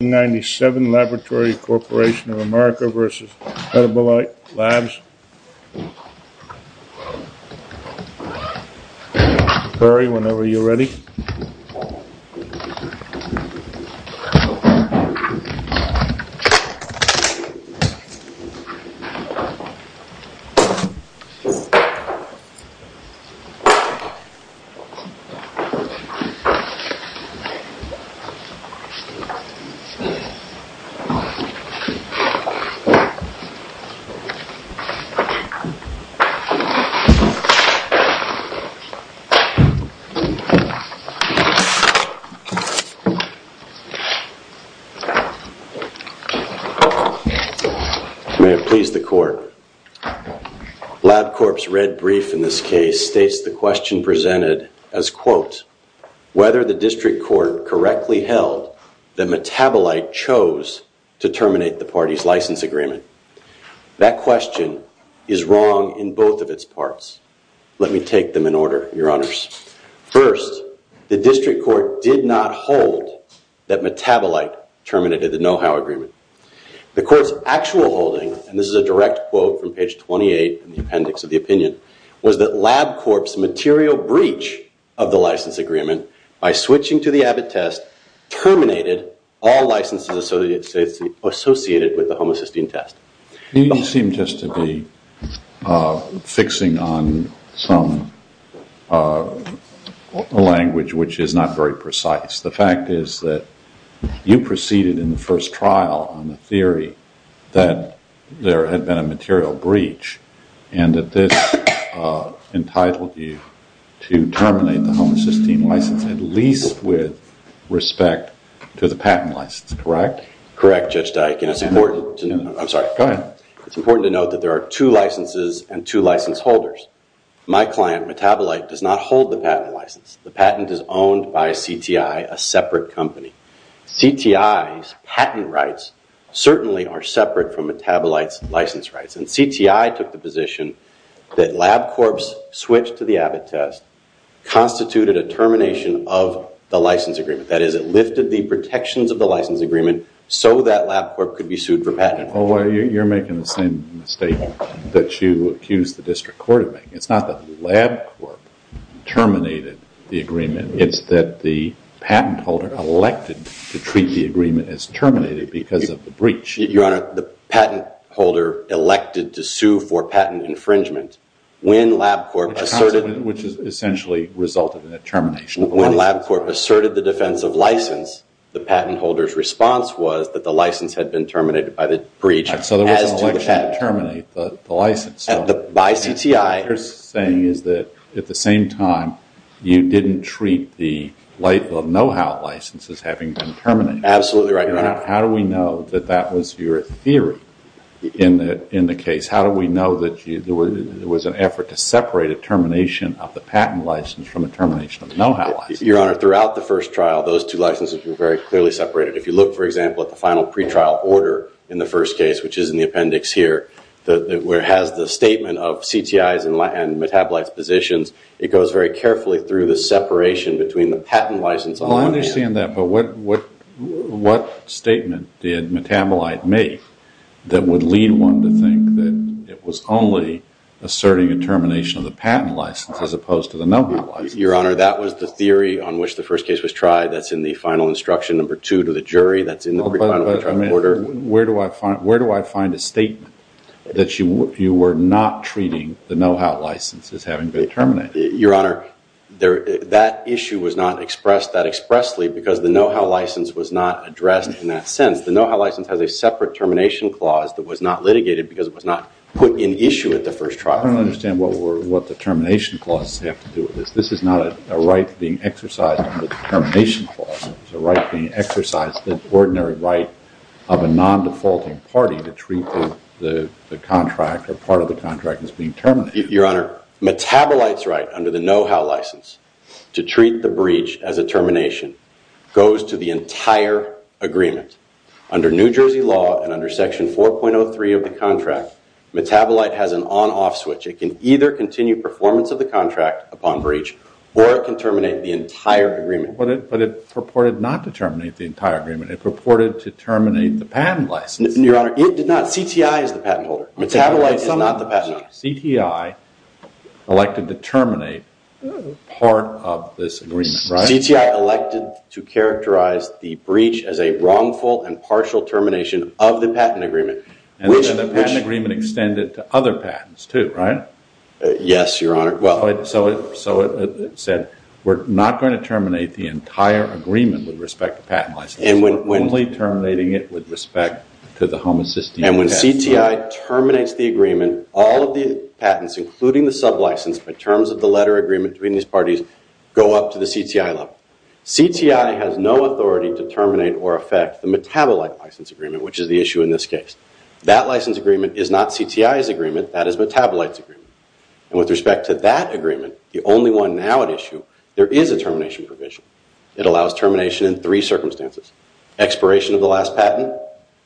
1997 Laboratory Corporation of America v. Metabolite Labs Prepare whenever you're ready May it please the court, LabCorp's red brief in this case states the question presented as, quote, whether the district court correctly held that Metabolite chose to terminate the party's license agreement. That question is wrong in both of its parts. Let me take them in order, your honors. First, the district court did not hold that Metabolite terminated the know-how agreement. The court's actual holding, and this is a direct quote from page 28 in the appendix of the opinion, was that LabCorp's material breach of the license agreement by switching to the Abbott test terminated all licenses associated with the homocysteine test. You seem just to be fixing on some language which is not very precise. The fact is that you proceeded in the first trial on the theory that there had been a material breach and that this entitled you to terminate the homocysteine license at least with respect to the patent license, correct? Correct, Judge Dike, and it's important to note that there are two licenses and two license holders. My client, Metabolite, does not hold the patent license. The patent is owned by CTI, a separate company. CTI's patent rights certainly are separate from Metabolite's license rights. CTI took the position that LabCorp's switch to the Abbott test constituted a termination of the license agreement. That is, it lifted the protections of the license agreement so that LabCorp could be sued for patent. You're making the same mistake that you accused the district court of making. It's not that LabCorp terminated the agreement. It's that the patent holder elected to treat the agreement as terminated because of the breach. Your Honor, the patent holder elected to sue for patent infringement when LabCorp asserted— Which essentially resulted in a termination of the license. When LabCorp asserted the defense of license, the patent holder's response was that the license had been terminated by the breach as to the patent. So there was an election to terminate the license. By CTI. What you're saying is that at the same time, you didn't treat the know-how license as having been terminated. Absolutely right, Your Honor. How do we know that that was your theory in the case? How do we know that there was an effort to separate a termination of the patent license from a termination of the know-how license? Your Honor, throughout the first trial, those two licenses were very clearly separated. If you look, for example, at the final pretrial order in the first case, which is in the appendix here, where it has the statement of CTIs and metabolized positions, it goes very carefully through the separation between the patent license and the know-how license. Well, I understand that. But what statement did metabolite make that would lead one to think that it was only asserting a termination of the patent license as opposed to the know-how license? Your Honor, that was the theory on which the first case was tried. That's in the final instruction number two to the jury. That's in the pre-trial order. Where do I find a statement that you were not treating the know-how license as having been terminated? Your Honor, that issue was not expressed that expressly because the know-how license was not addressed in that sense. The know-how license has a separate termination clause that was not litigated because it was not put in issue at the first trial. I don't understand what the termination clause has to do with this. This is not a right being exercised under the termination clause. It's a right being exercised, an ordinary right of a non-defaulting party to treat the contract or part of the contract as being terminated. Your Honor, Metabolite's right under the know-how license to treat the breach as a termination goes to the entire agreement. Under New Jersey law and under section 4.03 of the contract, Metabolite has an on-off switch. It can either continue performance of the contract upon breach or it can terminate the entire agreement. But it purported not to terminate the entire agreement. It purported to terminate the patent license. Your Honor, it did not. CTI is the patent holder. Metabolite is not the patent holder. CTI elected to terminate part of this agreement. CTI elected to characterize the breach as a wrongful and partial termination of the patent agreement. And the patent agreement extended to other patents too, right? Yes, Your Honor. So it said, we're not going to terminate the entire agreement with respect to patent license. We're only terminating it with respect to the homocysteine. And when CTI terminates the agreement, all of the patents, including the sublicense, in terms of the letter agreement between these parties, go up to the CTI level. CTI has no authority to terminate or affect the Metabolite license agreement, which is the issue in this case. That license agreement is not CTI's agreement. That is Metabolite's agreement. And with respect to that agreement, the only one now at issue, there is a termination provision. It allows termination in three circumstances. Expiration of the last patent,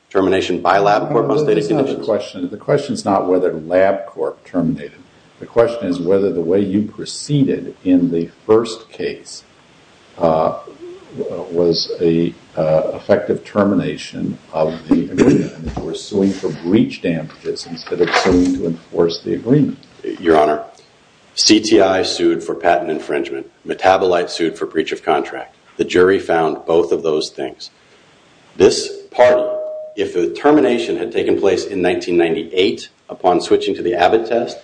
termination by LabCorp on stated conditions. The question is not whether LabCorp terminated it. The question is whether the way you proceeded in the first case was an effective termination of the agreement. You were suing for breach damages instead of suing to enforce the agreement. Your Honor, CTI sued for patent infringement. Metabolite sued for breach of contract. The jury found both of those things. This party, if the termination had taken place in 1998 upon switching to the Abbott test,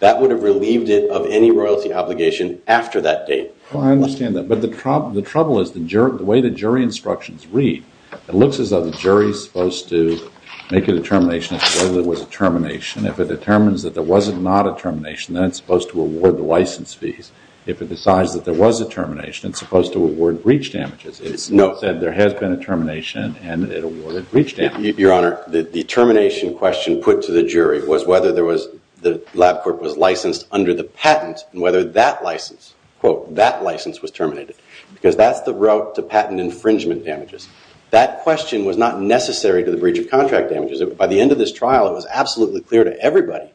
that would have relieved it of any royalty obligation after that date. Well, I understand that. But the trouble is the way the jury instructions read, it looks as though the jury is supposed to make a determination as to whether there was a termination. If it determines that there was not a termination, then it's supposed to award the license fees. If it decides that there was a termination, it's supposed to award breach damages. It said there has been a termination, and it awarded breach damages. Your Honor, the determination question put to the jury was whether the LabCorp was licensed under the patent and whether that license, quote, that license was terminated. Because that's the route to patent infringement damages. That question was not necessary to the breach of contract damages. By the end of this trial, it was absolutely clear to everybody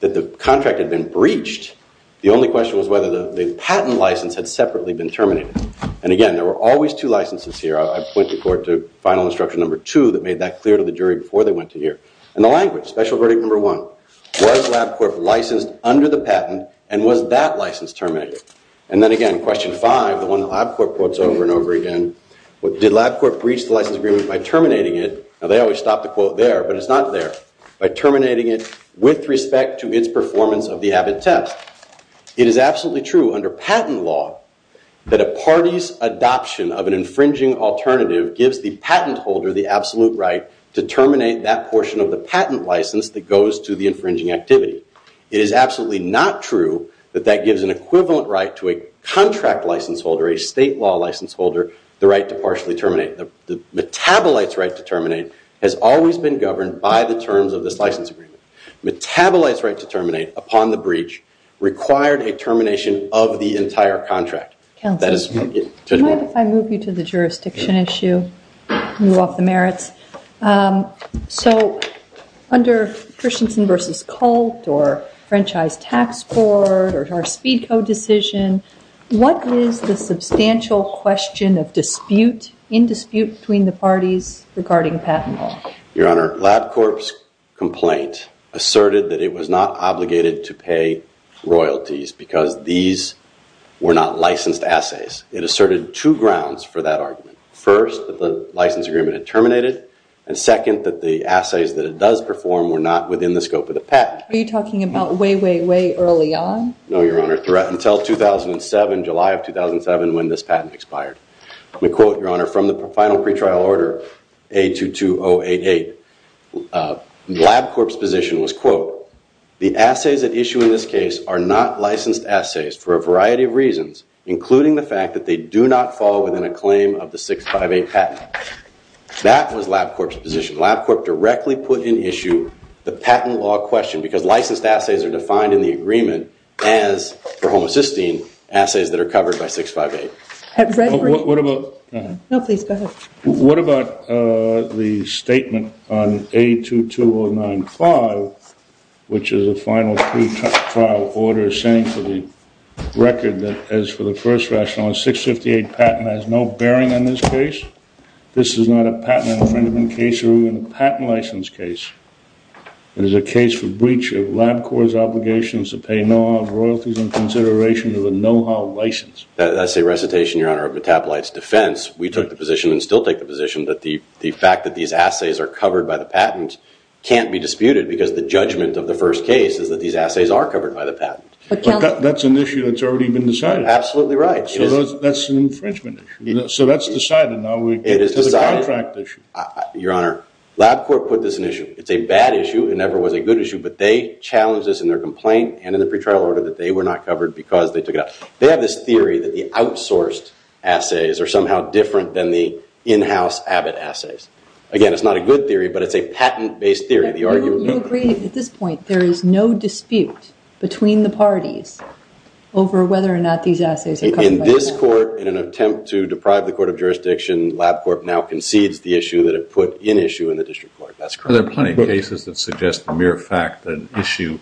that the contract had been breached. The only question was whether the patent license had separately been terminated. And again, there were always two licenses here. I point the court to final instruction number two that made that clear to the jury before they went to hear. And the language, special verdict number one, was LabCorp licensed under the patent, and was that license terminated? And then again, question five, the one that LabCorp quotes over and over again, did LabCorp breach the license agreement by terminating it? Now, they always stop the quote there, but it's not there. By terminating it with respect to its performance of the AVID test. It is absolutely true under patent law that a party's adoption of an infringing alternative gives the patent holder the absolute right to terminate that portion of the patent license that goes to the infringing activity. It is absolutely not true that that gives an equivalent right to a contract license holder, a state law license holder, the right to partially terminate. The metabolites right to terminate has always been governed by the terms of this license agreement. Metabolites right to terminate upon the breach required a termination of the entire contract. Counsel, can I move you to the jurisdiction issue? You off the merits. So under Christensen versus Colt, or Franchise Tax Court, or our speed code decision, what is the substantial question of dispute, in dispute between the parties regarding patent law? Your Honor, LabCorp's complaint asserted that it was not obligated to pay royalties because these were not licensed assays. It asserted two grounds for that argument. First, that the license agreement had terminated, and second, that the assays that it does perform were not within the scope of the patent. Are you talking about way, way, way early on? No, Your Honor, until 2007, July of 2007, when this patent expired. Let me quote, Your Honor, from the final pretrial order, A22088. LabCorp's position was, quote, the assays at issue in this case are not licensed assays for a variety of reasons, including the fact that they do not fall within a claim of the 658 patent. That was LabCorp's position. LabCorp directly put in issue the patent law question because licensed assays are defined in the agreement as, for homocysteine, assays that are covered by 658. What about the statement on A22095, which is a final pretrial order saying for the record that, as for the first rationale, a 658 patent has no bearing on this case? This is not a patent infringement case or even a patent license case. It is a case for breach of LabCorp's obligations to pay no royalties in consideration of a know-how license. That's a recitation, Your Honor, of Metabolite's defense. We took the position and still take the position that the fact that these assays are covered by the patent can't be disputed because the judgment of the first case is that these assays are covered by the patent. But that's an issue that's already been decided. Absolutely right. So that's an infringement issue. So that's decided. Now we get to the contract issue. Your Honor, LabCorp put this in issue. It's a bad issue. It never was a good issue, but they challenged this in their complaint and in the pretrial order that they were not covered because they took it out. They have this theory that the outsourced assays are somehow different than the in-house Abbott assays. Again, it's not a good theory, but it's a patent-based theory. You agree at this point there is no dispute between the parties over whether or not these assays are covered by the patent? In this court, in an attempt to deprive the court of jurisdiction, LabCorp now concedes the issue that it put in issue in the district court. That's correct. There are plenty of cases that suggest the mere fact that an issue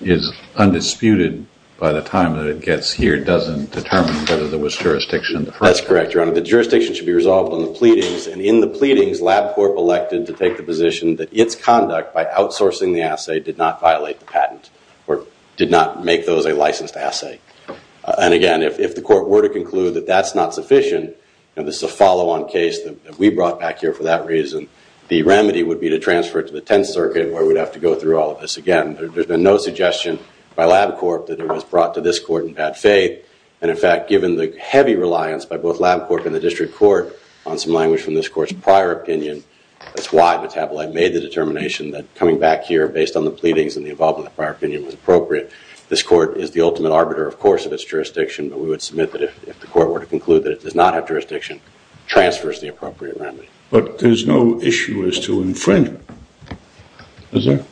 is undisputed by the time that it gets here doesn't determine whether there was jurisdiction in the first place. That's correct, Your Honor. The jurisdiction should be resolved in the pleadings, and in the pleadings, LabCorp elected to take the position that its conduct by outsourcing the assay did not violate the patent or did not make those a licensed assay. And again, if the court were to conclude that that's not sufficient, and this is a follow-on case that we brought back here for that reason, the remedy would be to transfer it to the Tenth Circuit, where we'd have to go through all of this again. There's been no suggestion by LabCorp that it was brought to this court in bad faith. And in fact, given the heavy reliance by both LabCorp and the district court on some language from this court's prior opinion, that's why Metabolite made the determination that coming back here, based on the pleadings and the involvement of the prior opinion, was appropriate. This court is the ultimate arbiter, of course, of its jurisdiction, but we would submit that if the court were to conclude that it does not have jurisdiction, transfers the appropriate remedy. But there's no issue as to infringement, is there?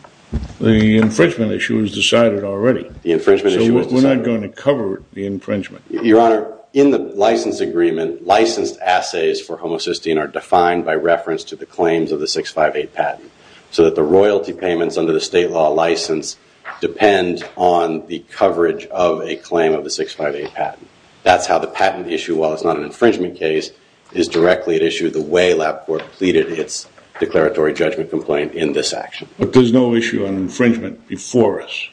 The infringement issue is decided already. The infringement issue is decided. So we're not going to cover the infringement. Your Honor, in the license agreement, licensed assays for homocysteine are defined by reference to the claims of the 658 patent, so that the royalty payments under the state law license depend on the coverage of a claim of the 658 patent. That's how the patent issue, while it's not an infringement case, is directly at issue the way LabCorp pleaded its declaratory judgment complaint in this action. But there's no issue on infringement before us.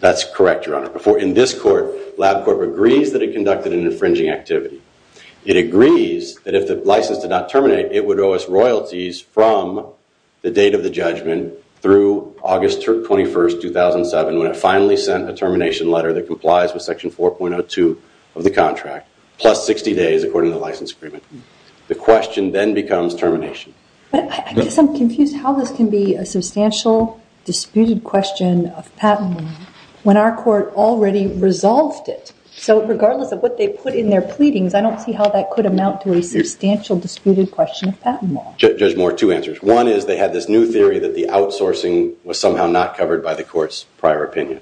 That's correct, Your Honor. In this court, LabCorp agrees that it conducted an infringing activity. It agrees that if the license did not terminate, it would owe us royalties from the date of the judgment through August 21, 2007, when it finally sent a termination letter that complies with Section 4.02 of the contract, plus 60 days according to the license agreement. The question then becomes termination. I guess I'm confused how this can be a substantial disputed question of patent law when our court already resolved it. So regardless of what they put in their pleadings, I don't see how that could amount to a substantial disputed question of patent law. Judge Moore, two answers. One is they had this new theory that the outsourcing was somehow not covered by the court's prior opinion.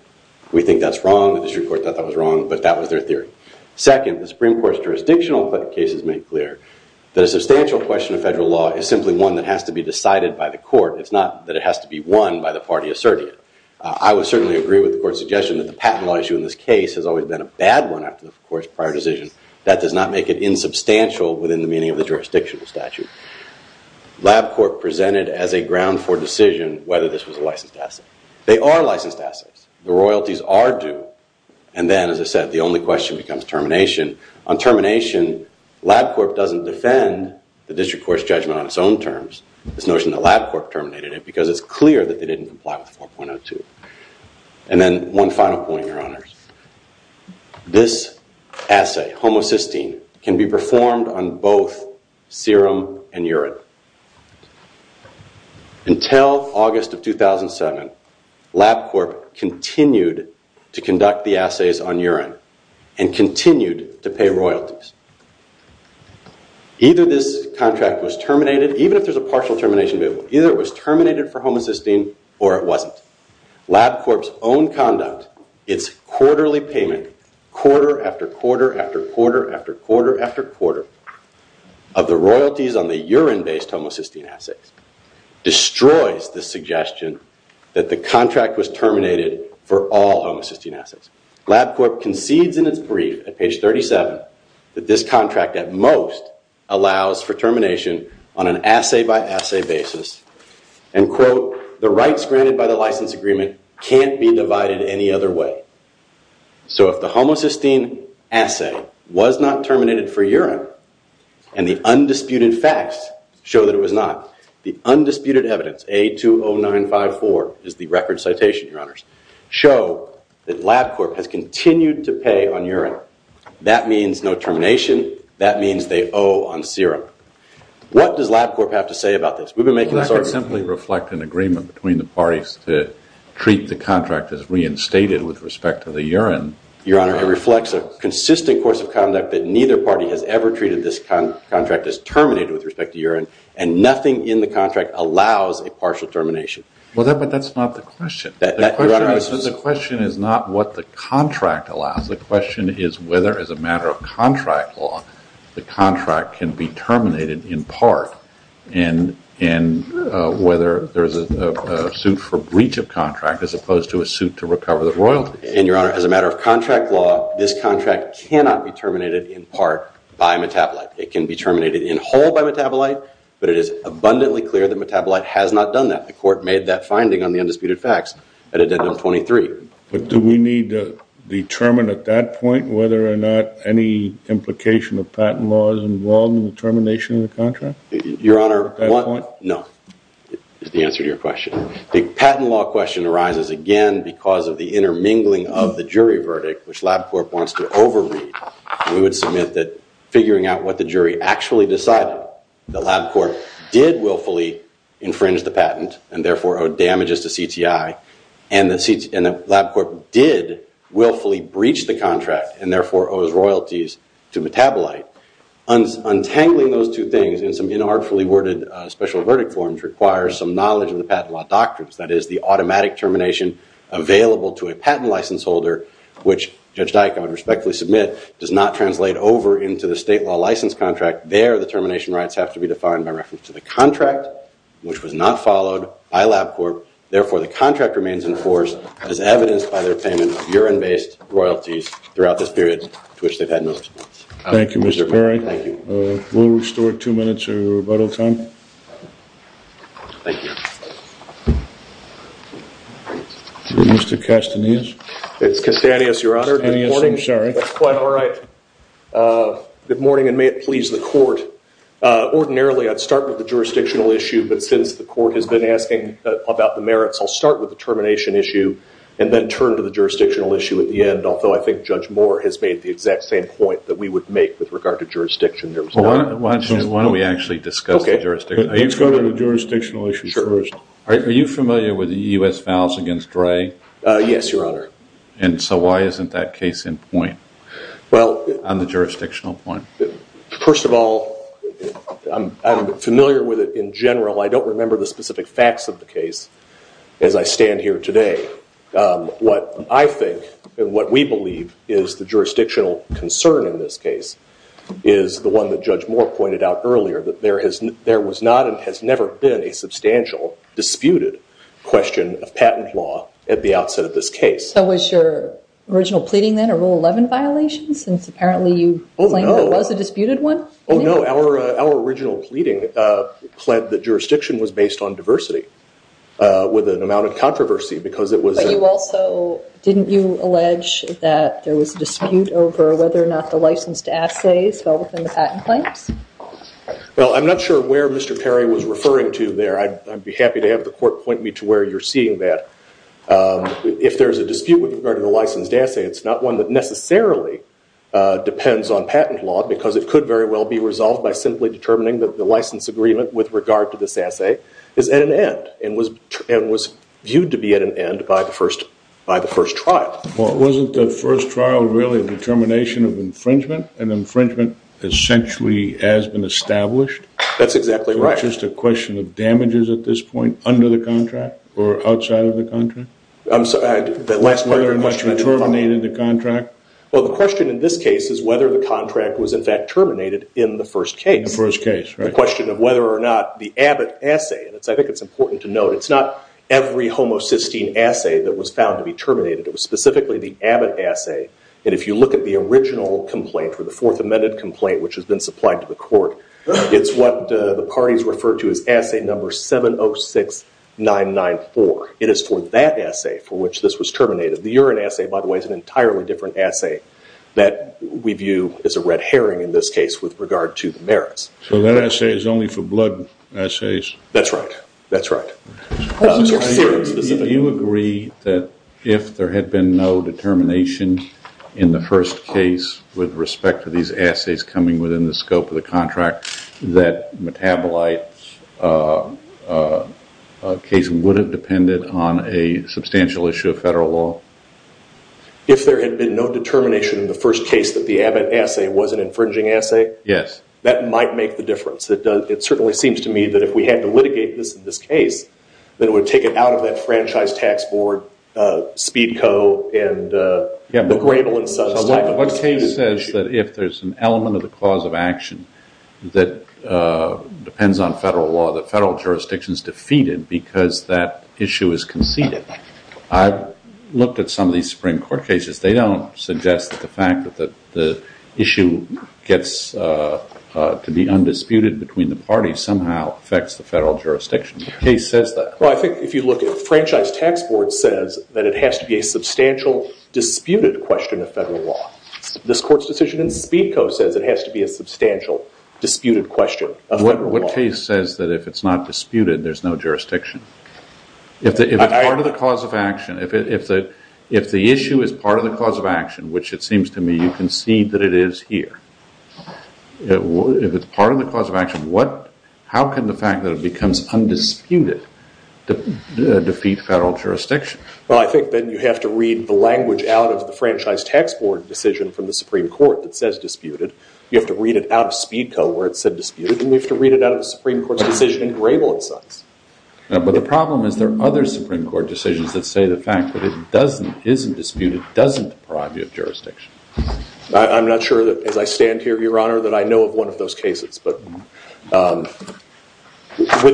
We think that's wrong. The district court thought that was wrong, but that was their theory. Second, the Supreme Court's jurisdictional cases make clear that a substantial question of federal law is simply one that has to be decided by the court. It's not that it has to be won by the party asserted. I would certainly agree with the court's suggestion that the patent law issue in this case has always been a bad one after the court's prior decision. That does not make it insubstantial within the meaning of the jurisdictional statute. LabCorp presented as a ground for decision whether this was a licensed asset. They are licensed assets. The royalties are due. And then, as I said, the only question becomes termination. On termination, LabCorp doesn't defend the district court's judgment on its own terms, this notion that LabCorp terminated it, because it's clear that they didn't comply with 4.02. And then one final point, Your Honors. This assay, homocysteine, can be performed on both serum and urine. Until August of 2007, LabCorp continued to conduct the assays on urine and continued to pay royalties. Either this contract was terminated, even if there's a partial termination bill, either it was terminated for homocysteine or it wasn't. LabCorp's own conduct, its quarterly payment, quarter after quarter after quarter after quarter after quarter, of the royalties on the urine-based homocysteine assays, destroys the suggestion that the contract was terminated for all homocysteine assays. LabCorp concedes in its brief at page 37 that this contract at most allows for termination on an assay by assay basis and quote, the rights granted by the license agreement can't be divided any other way. So if the homocysteine assay was not terminated for urine and the undisputed facts show that it was not, the undisputed evidence, A20954 is the record citation, Your Honors, show that LabCorp has continued to pay on urine. That means no termination, that means they owe on serum. What does LabCorp have to say about this? I can simply reflect an agreement between the parties to treat the contract as reinstated with respect to the urine. Your Honor, it reflects a consistent course of conduct that neither party has ever treated this contract as terminated with respect to urine and nothing in the contract allows a partial termination. But that's not the question. The question is not what the contract allows. The question is whether as a matter of contract law, the contract can be terminated in part and whether there's a suit for breach of contract as opposed to a suit to recover the royalties. And Your Honor, as a matter of contract law, this contract cannot be terminated in part by metabolite. It can be terminated in whole by metabolite, but it is abundantly clear that metabolite has not done that. The court made that finding on the undisputed facts at Addendum 23. But do we need to determine at that point whether or not any implication of patent law is involved in the termination of the contract? Your Honor, no. That's the answer to your question. The patent law question arises again because of the intermingling of the jury verdict, which LabCorp wants to overread. We would submit that figuring out what the jury actually decided, that LabCorp did willfully infringe the patent and therefore owed damages to CTI, and that LabCorp did willfully breach the contract, and therefore owes royalties to metabolite. Untangling those two things in some inartfully worded special verdict forms requires some knowledge of the patent law doctrines. That is, the automatic termination available to a patent license holder, which Judge Dyck, I would respectfully submit, does not translate over into the state law license contract. There, the termination rights have to be defined by reference to the contract, which was not followed by LabCorp. Therefore, the contract remains in force as evidenced by their payment of urine-based royalties throughout this period to which they've had no response. Thank you, Mr. Perry. We'll restore two minutes of rebuttal time. Thank you. Mr. Castanis. It's Castanis, Your Honor. Good morning. That's quite all right. Good morning, and may it please the court. Ordinarily, I'd start with the jurisdictional issue, but since the court has been asking about the merits, I'll start with the termination issue and then turn to the jurisdictional issue at the end, although I think Judge Moore has made the exact same point that we would make with regard to jurisdiction. Why don't we actually discuss the jurisdiction? Let's go to the jurisdictional issue first. Are you familiar with the U.S. vows against Gray? Yes, Your Honor. And so why isn't that case in point on the jurisdictional point? First of all, I'm familiar with it in general. I don't remember the specific facts of the case as I stand here today. What I think and what we believe is the jurisdictional concern in this case is the one that Judge Moore pointed out earlier, that there was not and has never been a substantial disputed question of patent law at the outset of this case. So was your original pleading then a Rule 11 violation since apparently you claimed there was a disputed one? Oh, no. Our original pleading pled that jurisdiction was based on diversity with an amount of controversy because it was... But you also, didn't you allege that there was a dispute over whether or not the licensed assays fell within the patent claims? Well, I'm not sure where Mr. Perry was referring to there. I'd be happy to have the court point me to where you're seeing that. If there's a dispute with regard to the licensed assay, it's not one that necessarily depends on patent law because it could very well be resolved by simply determining that the license agreement with regard to this assay is at an end and was viewed to be at an end by the first trial. Well, wasn't the first trial really a determination of infringement? An infringement essentially has been established? That's exactly right. Just a question of damages at this point under the contract or outside of the contract? I'm sorry, the last part of your question... Whether or not you terminated the contract? Well, the question in this case is whether the contract was in fact terminated in the first case. In the first case, right. The question of whether or not the Abbott assay, and I think it's important to note, it's not every homocysteine assay that was found to be terminated. It was specifically the Abbott assay. And if you look at the original complaint for the Fourth Amendment complaint, which has been supplied to the court, it's what the parties refer to as assay number 706994. It is for that assay for which this was terminated. The urine assay, by the way, is an entirely different assay that we view as a red herring in this case with regard to the merits. So that assay is only for blood assays? That's right. That's right. Do you agree that if there had been no determination in the first case with respect to these assays coming within the scope of the contract that metabolite case would have depended on a substantial issue of federal law? If there had been no determination in the first case that the Abbott assay was an infringing assay? Yes. That might make the difference. It certainly seems to me that if we had to litigate this in this case, that it would take it out of that Franchise Tax Board, Speedco, and the Grable and Sons type of case. So what case says that if there's an element of the clause of action that depends on federal law that federal jurisdiction's defeated because that issue is conceded? I've looked at some of these Supreme Court cases. They don't suggest that the fact that the issue gets to be undisputed between the parties somehow affects the federal jurisdiction. What case says that? Well, I think if you look at Franchise Tax Board says that it has to be a substantial disputed question of federal law. This court's decision in Speedco says it has to be a substantial disputed question of federal law. What case says that if it's not disputed there's no jurisdiction? If it's part of the clause of action, if the issue is part of the clause of action, which it seems to me you can see that it is here, if it's part of the clause of action, how can the fact that it becomes undisputed defeat federal jurisdiction? Well, I think then you have to read the language out of the Franchise Tax Board decision from the Supreme Court that says disputed. You have to read it out of Speedco where it said disputed, and you have to read it out of the Supreme Court's decision in Grable and Sons. But the problem is there are other Supreme Court decisions that say the fact that it isn't disputed doesn't deprive you of jurisdiction. I'm not sure that as I stand here, Your Honor, that I know of one of those cases. But with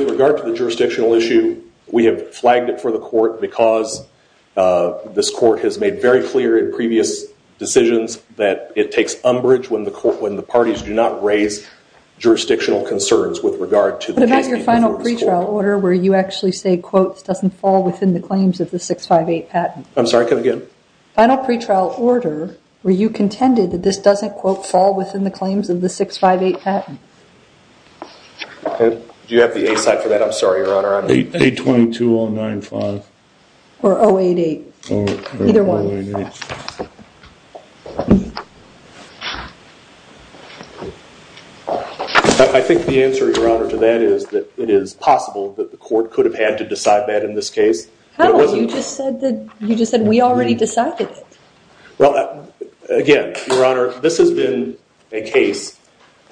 regard to the jurisdictional issue, we have flagged it for the court because this court has made very clear in previous decisions that it takes umbrage when the parties do not raise jurisdictional concerns with regard to the case being before this court. What about your final pretrial order where you actually say, quote, doesn't fall within the claims of the 658 patent? I'm sorry, can I go again? Final pretrial order where you contended that this doesn't, quote, fall within the claims of the 658 patent. Do you have the A side for that? I'm sorry, Your Honor. 822095. Or 088. Either one. I think the answer, Your Honor, to that is that it is possible that the court could have had to decide that in this case. You just said we already decided it. Again, Your Honor, this has been a case,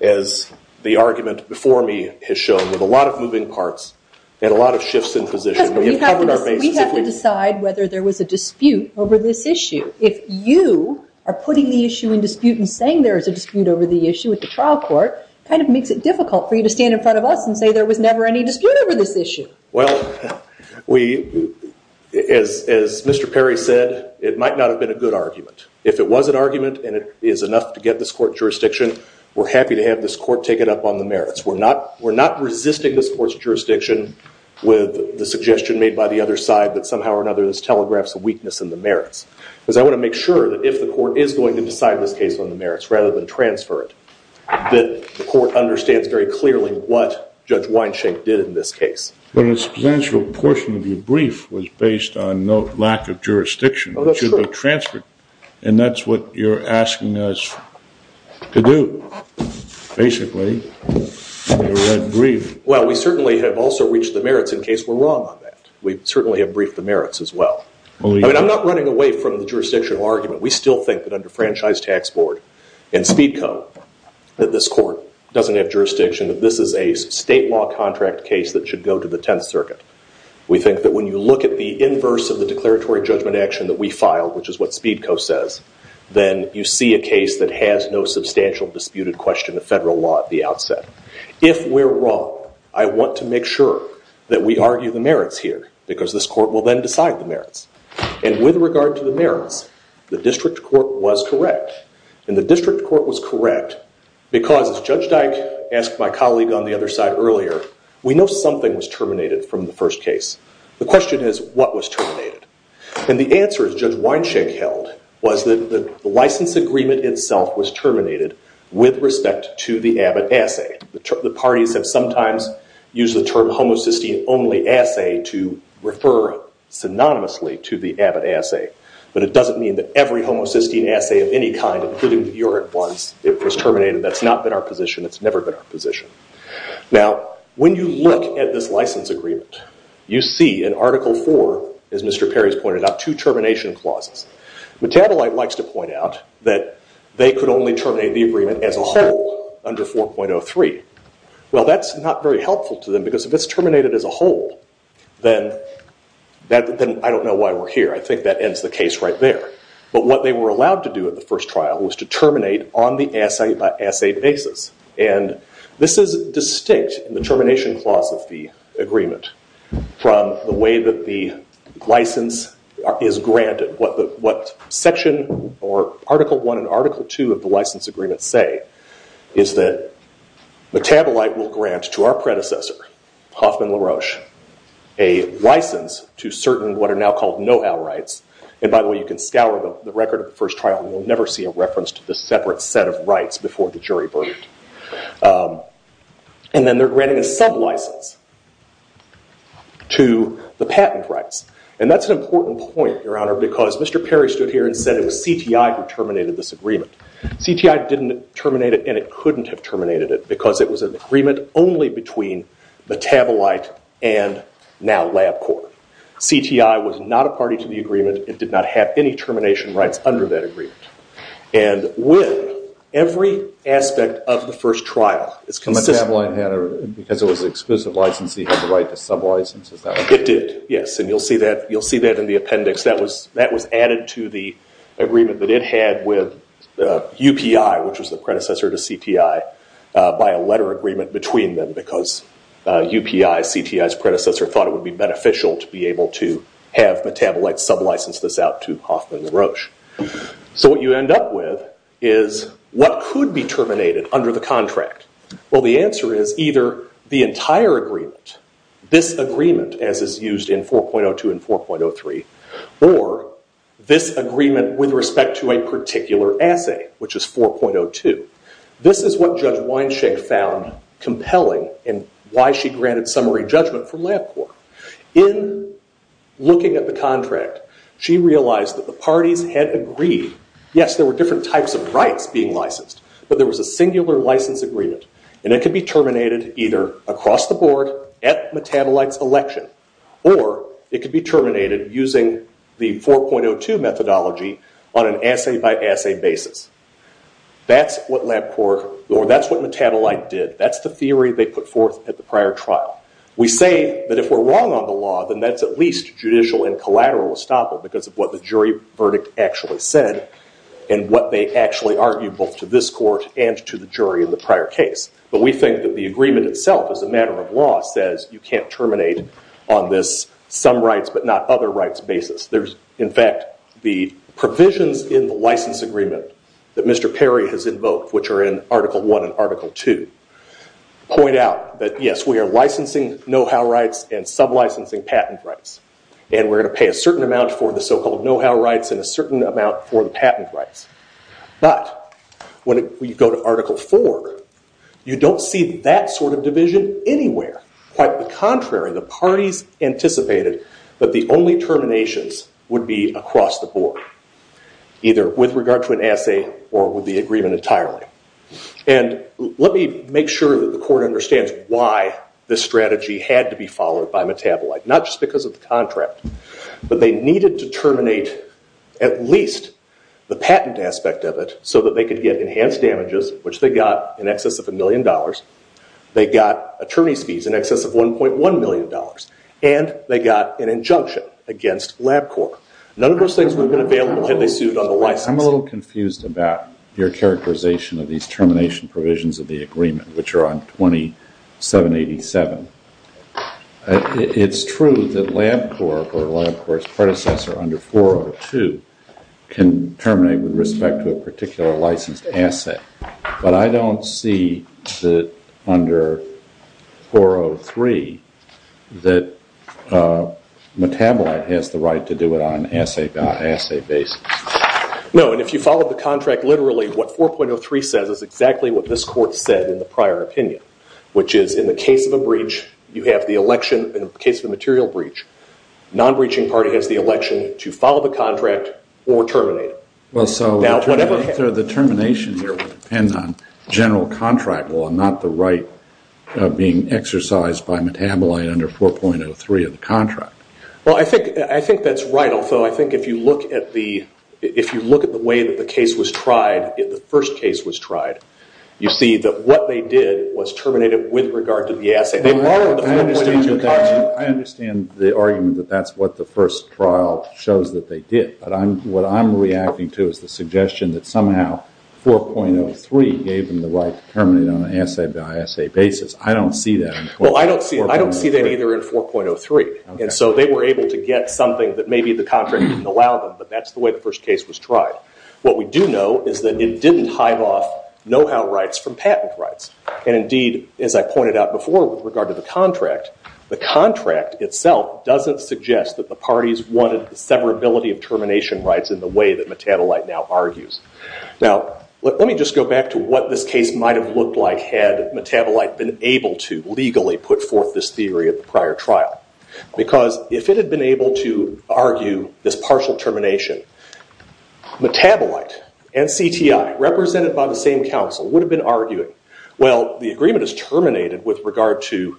as the argument before me has shown, with a lot of moving parts and a lot of shifts in position. We have to decide whether there was a dispute over this issue. If you are putting the issue in dispute and saying there is a dispute over the issue at the trial court, it kind of makes it difficult for you to stand in front of us and say there was never any dispute over this issue. Well, as Mr. Perry said, it might not have been a good argument. If it was an argument and it is enough to get this court jurisdiction, we're happy to have this court take it up on the merits. We're not resisting this court's jurisdiction with the suggestion made by the other side that somehow or another this telegraphs a weakness in the merits. Because I want to make sure that if the court is going to decide this case on the merits, rather than transfer it, that the court understands very clearly what Judge Weinshank did in this case. But a substantial portion of your brief was based on no lack of jurisdiction. Oh, that's true. It should have been transferred. And that's what you're asking us to do, basically, in a red brief. Well, we certainly have also reached the merits in case we're wrong on that. We certainly have briefed the merits as well. I mean, I'm not running away from the jurisdictional argument. We still think that under Franchise Tax Board and Speed Co., that this court doesn't have jurisdiction, that this is a state law contract case that should go to the 10th Circuit. We think that when you look at the inverse of the declaratory judgment action that we filed, which is what Speed Co. says, then you see a case that has no substantial disputed question of federal law at the outset. If we're wrong, I want to make sure that we argue the merits here. Because this court will then decide the merits. And with regard to the merits, the district court was correct. And the district court was correct because, as Judge Dyke asked my colleague on the other side earlier, we know something was terminated from the first case. The question is, what was terminated? And the answer, as Judge Weinshank held, was that the license agreement itself was terminated with respect to the Abbott assay. The parties have sometimes used the term homocysteine-only assay to refer synonymously to the Abbott assay. But it doesn't mean that every homocysteine assay of any kind, including the urine ones, it was terminated. That's not been our position. It's never been our position. Now, when you look at this license agreement, you see in Article IV, as Mr. Perry's pointed out, two termination clauses. Metabolite likes to point out that they could only terminate the agreement as a whole under 4.03. Well, that's not very helpful to them because if it's terminated as a whole, then I don't know why we're here. I think that ends the case right there. But what they were allowed to do at the first trial was to terminate on the assay basis. And this is distinct in the termination clause of the agreement from the way that the license is granted. What Section or Article I and Article II of the license agreement say is that metabolite will grant to our predecessor, Hoffman LaRoche, a license to certain what are now called know-how rights. And by the way, you can scour the record of the first trial, and you'll never see a reference to the separate set of rights before the jury verdict. And then they're granting a sub-license to the patent rights. And that's an important point, Your Honor, because Mr. Perry stood here and said it was CTI who terminated this agreement. CTI didn't terminate it, and it couldn't have terminated it because it was an agreement only between metabolite and now LabCorp. CTI was not a party to the agreement. It did not have any termination rights under that agreement. And with every aspect of the first trial, it's consistent. Because it was an exclusive license, it had the right to sub-license? It did, yes. And you'll see that in the appendix. That was added to the agreement that it had with UPI, which was the predecessor to CTI, by a letter agreement between them because UPI, CTI's predecessor, thought it would be beneficial to be able to have metabolites sub-license this out to Hoffman and Roche. So what you end up with is what could be terminated under the contract? Well, the answer is either the entire agreement, this agreement as is used in 4.02 and 4.03, or this agreement with respect to a particular assay, which is 4.02. This is what Judge Weinshank found compelling and why she granted summary judgment from LabCorp. In looking at the contract, she realized that the parties had agreed. Yes, there were different types of rights being licensed, but there was a singular license agreement. And it could be terminated either across the board at metabolite's election, or it could be terminated using the 4.02 methodology on an assay-by-assay basis. That's what LabCorp, or that's what Metabolite did. That's the theory they put forth at the prior trial. We say that if we're wrong on the law, then that's at least judicial and collateral estoppel because of what the jury verdict actually said and what they actually argued both to this court and to the jury in the prior case. But we think that the agreement itself, as a matter of law, says you can't terminate on this some-rights-but-not-other-rights basis. In fact, the provisions in the license agreement that Mr. Perry has invoked, which are in Article I and Article II, point out that, yes, we are licensing know-how rights and sublicensing patent rights. And we're going to pay a certain amount for the so-called know-how rights and a certain amount for the patent rights. But when you go to Article IV, you don't see that sort of division anywhere. Quite the contrary. The parties anticipated that the only terminations would be across the board, either with regard to an assay or with the agreement entirely. And let me make sure that the court understands why this strategy had to be followed by Metabolite, not just because of the contract. But they needed to terminate at least the patent aspect of it so that they could get enhanced damages, which they got in excess of $1 million. They got attorney's fees in excess of $1.1 million. And they got an injunction against LabCorp. None of those things would have been available had they sued on the licensing. I'm a little confused about your characterization of these termination provisions of the agreement, which are on 2787. It's true that LabCorp or LabCorp's predecessor under 402 can terminate with respect to a particular licensed assay. But I don't see that under 403 that Metabolite has the right to do it on assay basis. No, and if you follow the contract, literally what 4.03 says is exactly what this court said in the prior opinion, which is in the case of a breach, you have the election. In the case of a material breach, non-breaching party has the election to follow the contract or terminate it. Well, so the termination here would depend on general contract law, not the right being exercised by Metabolite under 4.03 of the contract. Well, I think that's right. Although, I think if you look at the way that the case was tried, the first case was tried, you see that what they did was terminate it with regard to the assay. They borrowed the 4.02 contract. I understand the argument that that's what the first trial shows that they did. But what I'm reacting to is the suggestion that somehow 4.03 gave them the right to terminate it on an assay by assay basis. I don't see that in 4.03. Well, I don't see that either in 4.03. And so they were able to get something that maybe the contract didn't allow them. But that's the way the first case was tried. What we do know is that it didn't hide off know-how rights from patent rights. And indeed, as I pointed out before with regard to the contract, the contract itself doesn't suggest that the parties wanted the severability of termination rights in the way that Metabolite now argues. Now, let me just go back to what this case might have looked like had Metabolite been able to legally put forth this theory at the prior trial. Because if it had been able to argue this partial termination, Metabolite and CTI, represented by the same counsel, would have been arguing, well, the agreement is terminated with regard to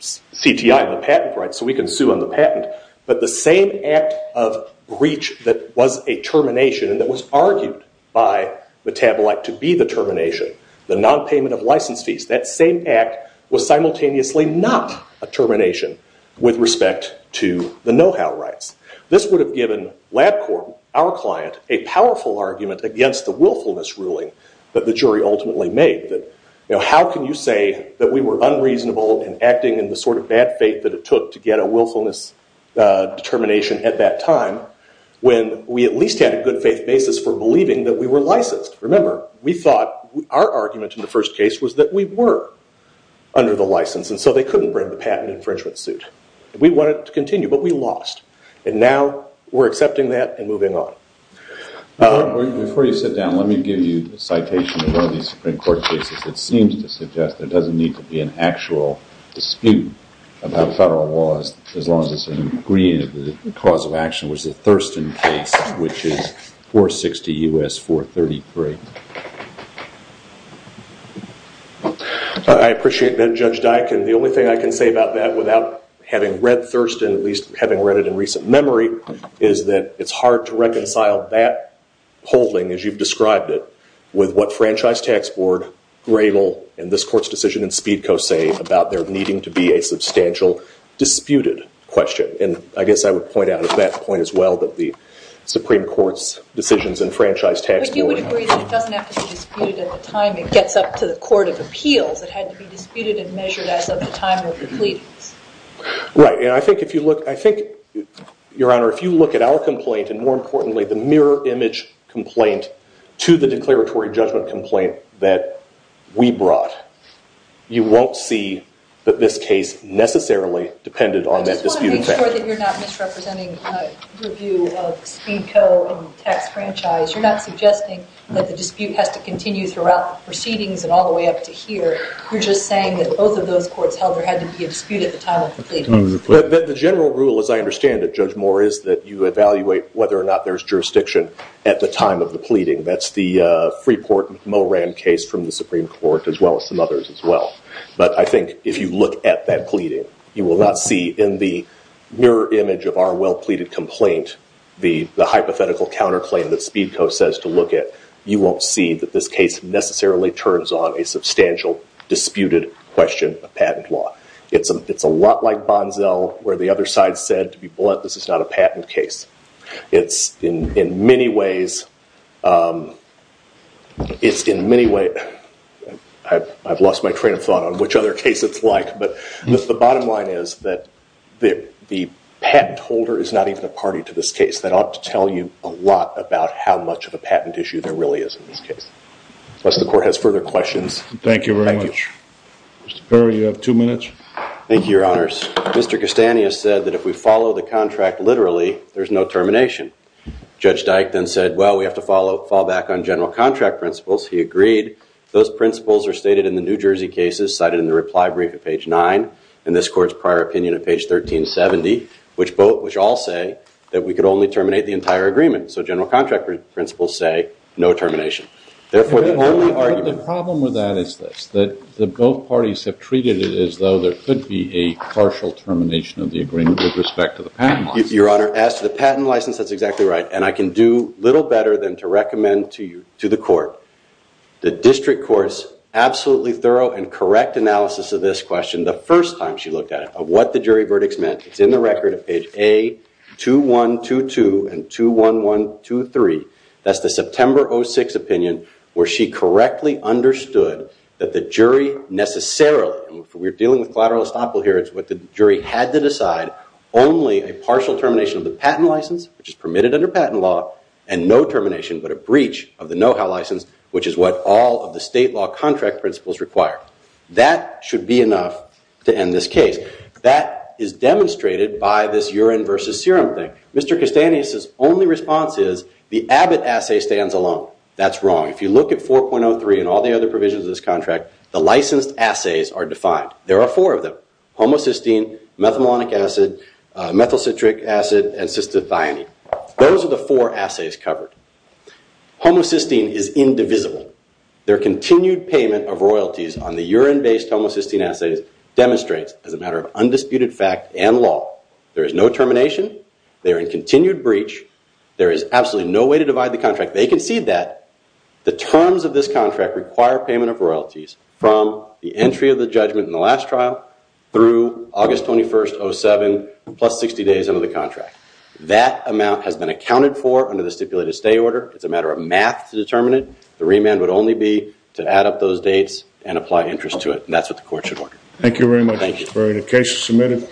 CTI and the patent rights, so we can sue on the patent. But the same act of breach that was a termination and that was argued by Metabolite to be the termination, the non-payment of license fees, that same act was simultaneously not a termination with respect to the know-how rights. This would have given LabCorp, our client, a powerful argument against the willfulness ruling that the jury ultimately made. How can you say that we were unreasonable and acting in the sort of bad faith that it took to get a willfulness determination at that time when we at least had a good faith basis for believing that we were licensed? Remember, we thought our argument in the first case was that we were under the license, and so they couldn't bring the patent infringement suit. We wanted to continue, but we lost. And now we're accepting that and moving on. Before you sit down, let me give you a citation of one of these Supreme Court cases that seems to suggest there doesn't need to be an actual dispute about federal laws as long as it's an agreement that the cause of action was the Thurston case, which is 460 U.S. 433. I appreciate that, Judge Dike. And the only thing I can say about that without having read Thurston, at least having read it in recent memory, is that it's hard to reconcile that holding, as you've described it, with what Franchise Tax Board, Grable, and this Court's decision in Speedco say about there needing to be a substantial disputed question. And I guess I would point out at that point as well that the Supreme Court's decisions in Franchise Tax Board are not disputed. But you would agree that it doesn't have to be disputed at the time it gets up to the Court of Appeals. It had to be disputed and measured as of the time of the pleadings. Right. And I think, Your Honor, if you look at our complaint, and more importantly, the mirror image complaint to the declaratory judgment complaint that we brought, you won't see that this case necessarily depended on that disputed fact. I just want to make sure that you're not misrepresenting the view of Speedco and Tax Franchise. You're not suggesting that the dispute has to continue throughout the proceedings and all the way up to here. You're just saying that both of those courts held there had to be a dispute at the time of the pleading. The general rule, as I understand it, Judge Moore, is that you evaluate whether or not there's jurisdiction at the time of the pleading. That's the Freeport-Moran case from the Supreme Court, as well as some others as well. But I think if you look at that pleading, you will not see in the mirror image of our well-pleaded complaint the hypothetical counterclaim that Speedco says to look at, you won't see that this case necessarily turns on a substantial disputed question of patent law. It's a lot like Bonzel, where the other side said, to be blunt, this is not a patent case. I've lost my train of thought on which other case it's like. But the bottom line is that the patent holder is not even a party to this case. That ought to tell you a lot about how much of a patent issue there really is in this case. Unless the court has further questions, thank you. Thank you very much. Mr. Perry, you have two minutes. Thank you, Your Honors. Mr. Castagne has said that if we follow the contract literally, there is no termination. Judge Dyke then said, well, we have to fall back on general contract principles. He agreed. Those principles are stated in the New Jersey cases, cited in the reply brief at page 9, and this court's prior opinion at page 1370, which all say that we could only terminate the entire agreement. So general contract principles say no termination. Therefore, the only argument. But the problem with that is this, that both parties have treated it as though there could be a partial termination of the agreement with respect to the patent license. Your Honor, as to the patent license, that's exactly right. And I can do little better than to recommend to the court, the district court's absolutely thorough and correct analysis of this question the first time she looked at it, of what the jury verdicts meant. It's in the record at page A2122 and 21123. That's the September 06 opinion where she correctly understood that the jury necessarily, and we're dealing with collateral estoppel here, it's what the jury had to decide, only a partial termination of the patent license, which is permitted under patent law, and no termination, but a breach of the know-how license, which is what all of the state law contract principles require. That should be enough to end this case. That is demonstrated by this urine versus serum thing. Mr. Castanis' only response is, the Abbott assay stands alone. That's wrong. If you look at 4.03 and all the other provisions of this contract, the licensed assays are defined. There are four of them. Homocysteine, methylmalonic acid, methyl citric acid, and cystathione. Those are the four assays covered. Homocysteine is indivisible. Their continued payment of royalties on the urine-based homocysteine assays demonstrates, as a matter of undisputed fact and law, there is no termination. They are in continued breach. There is absolutely no way to divide the contract. They concede that. The terms of this contract require payment of royalties from the entry of the judgment in the last trial through August 21, 2007, plus 60 days under the contract. That amount has been accounted for under the stipulated stay order. It's a matter of math to determine it. The remand would only be to add up those dates and apply interest to it. And that's what the court should order. Thank you very much. Thank you. The case is submitted.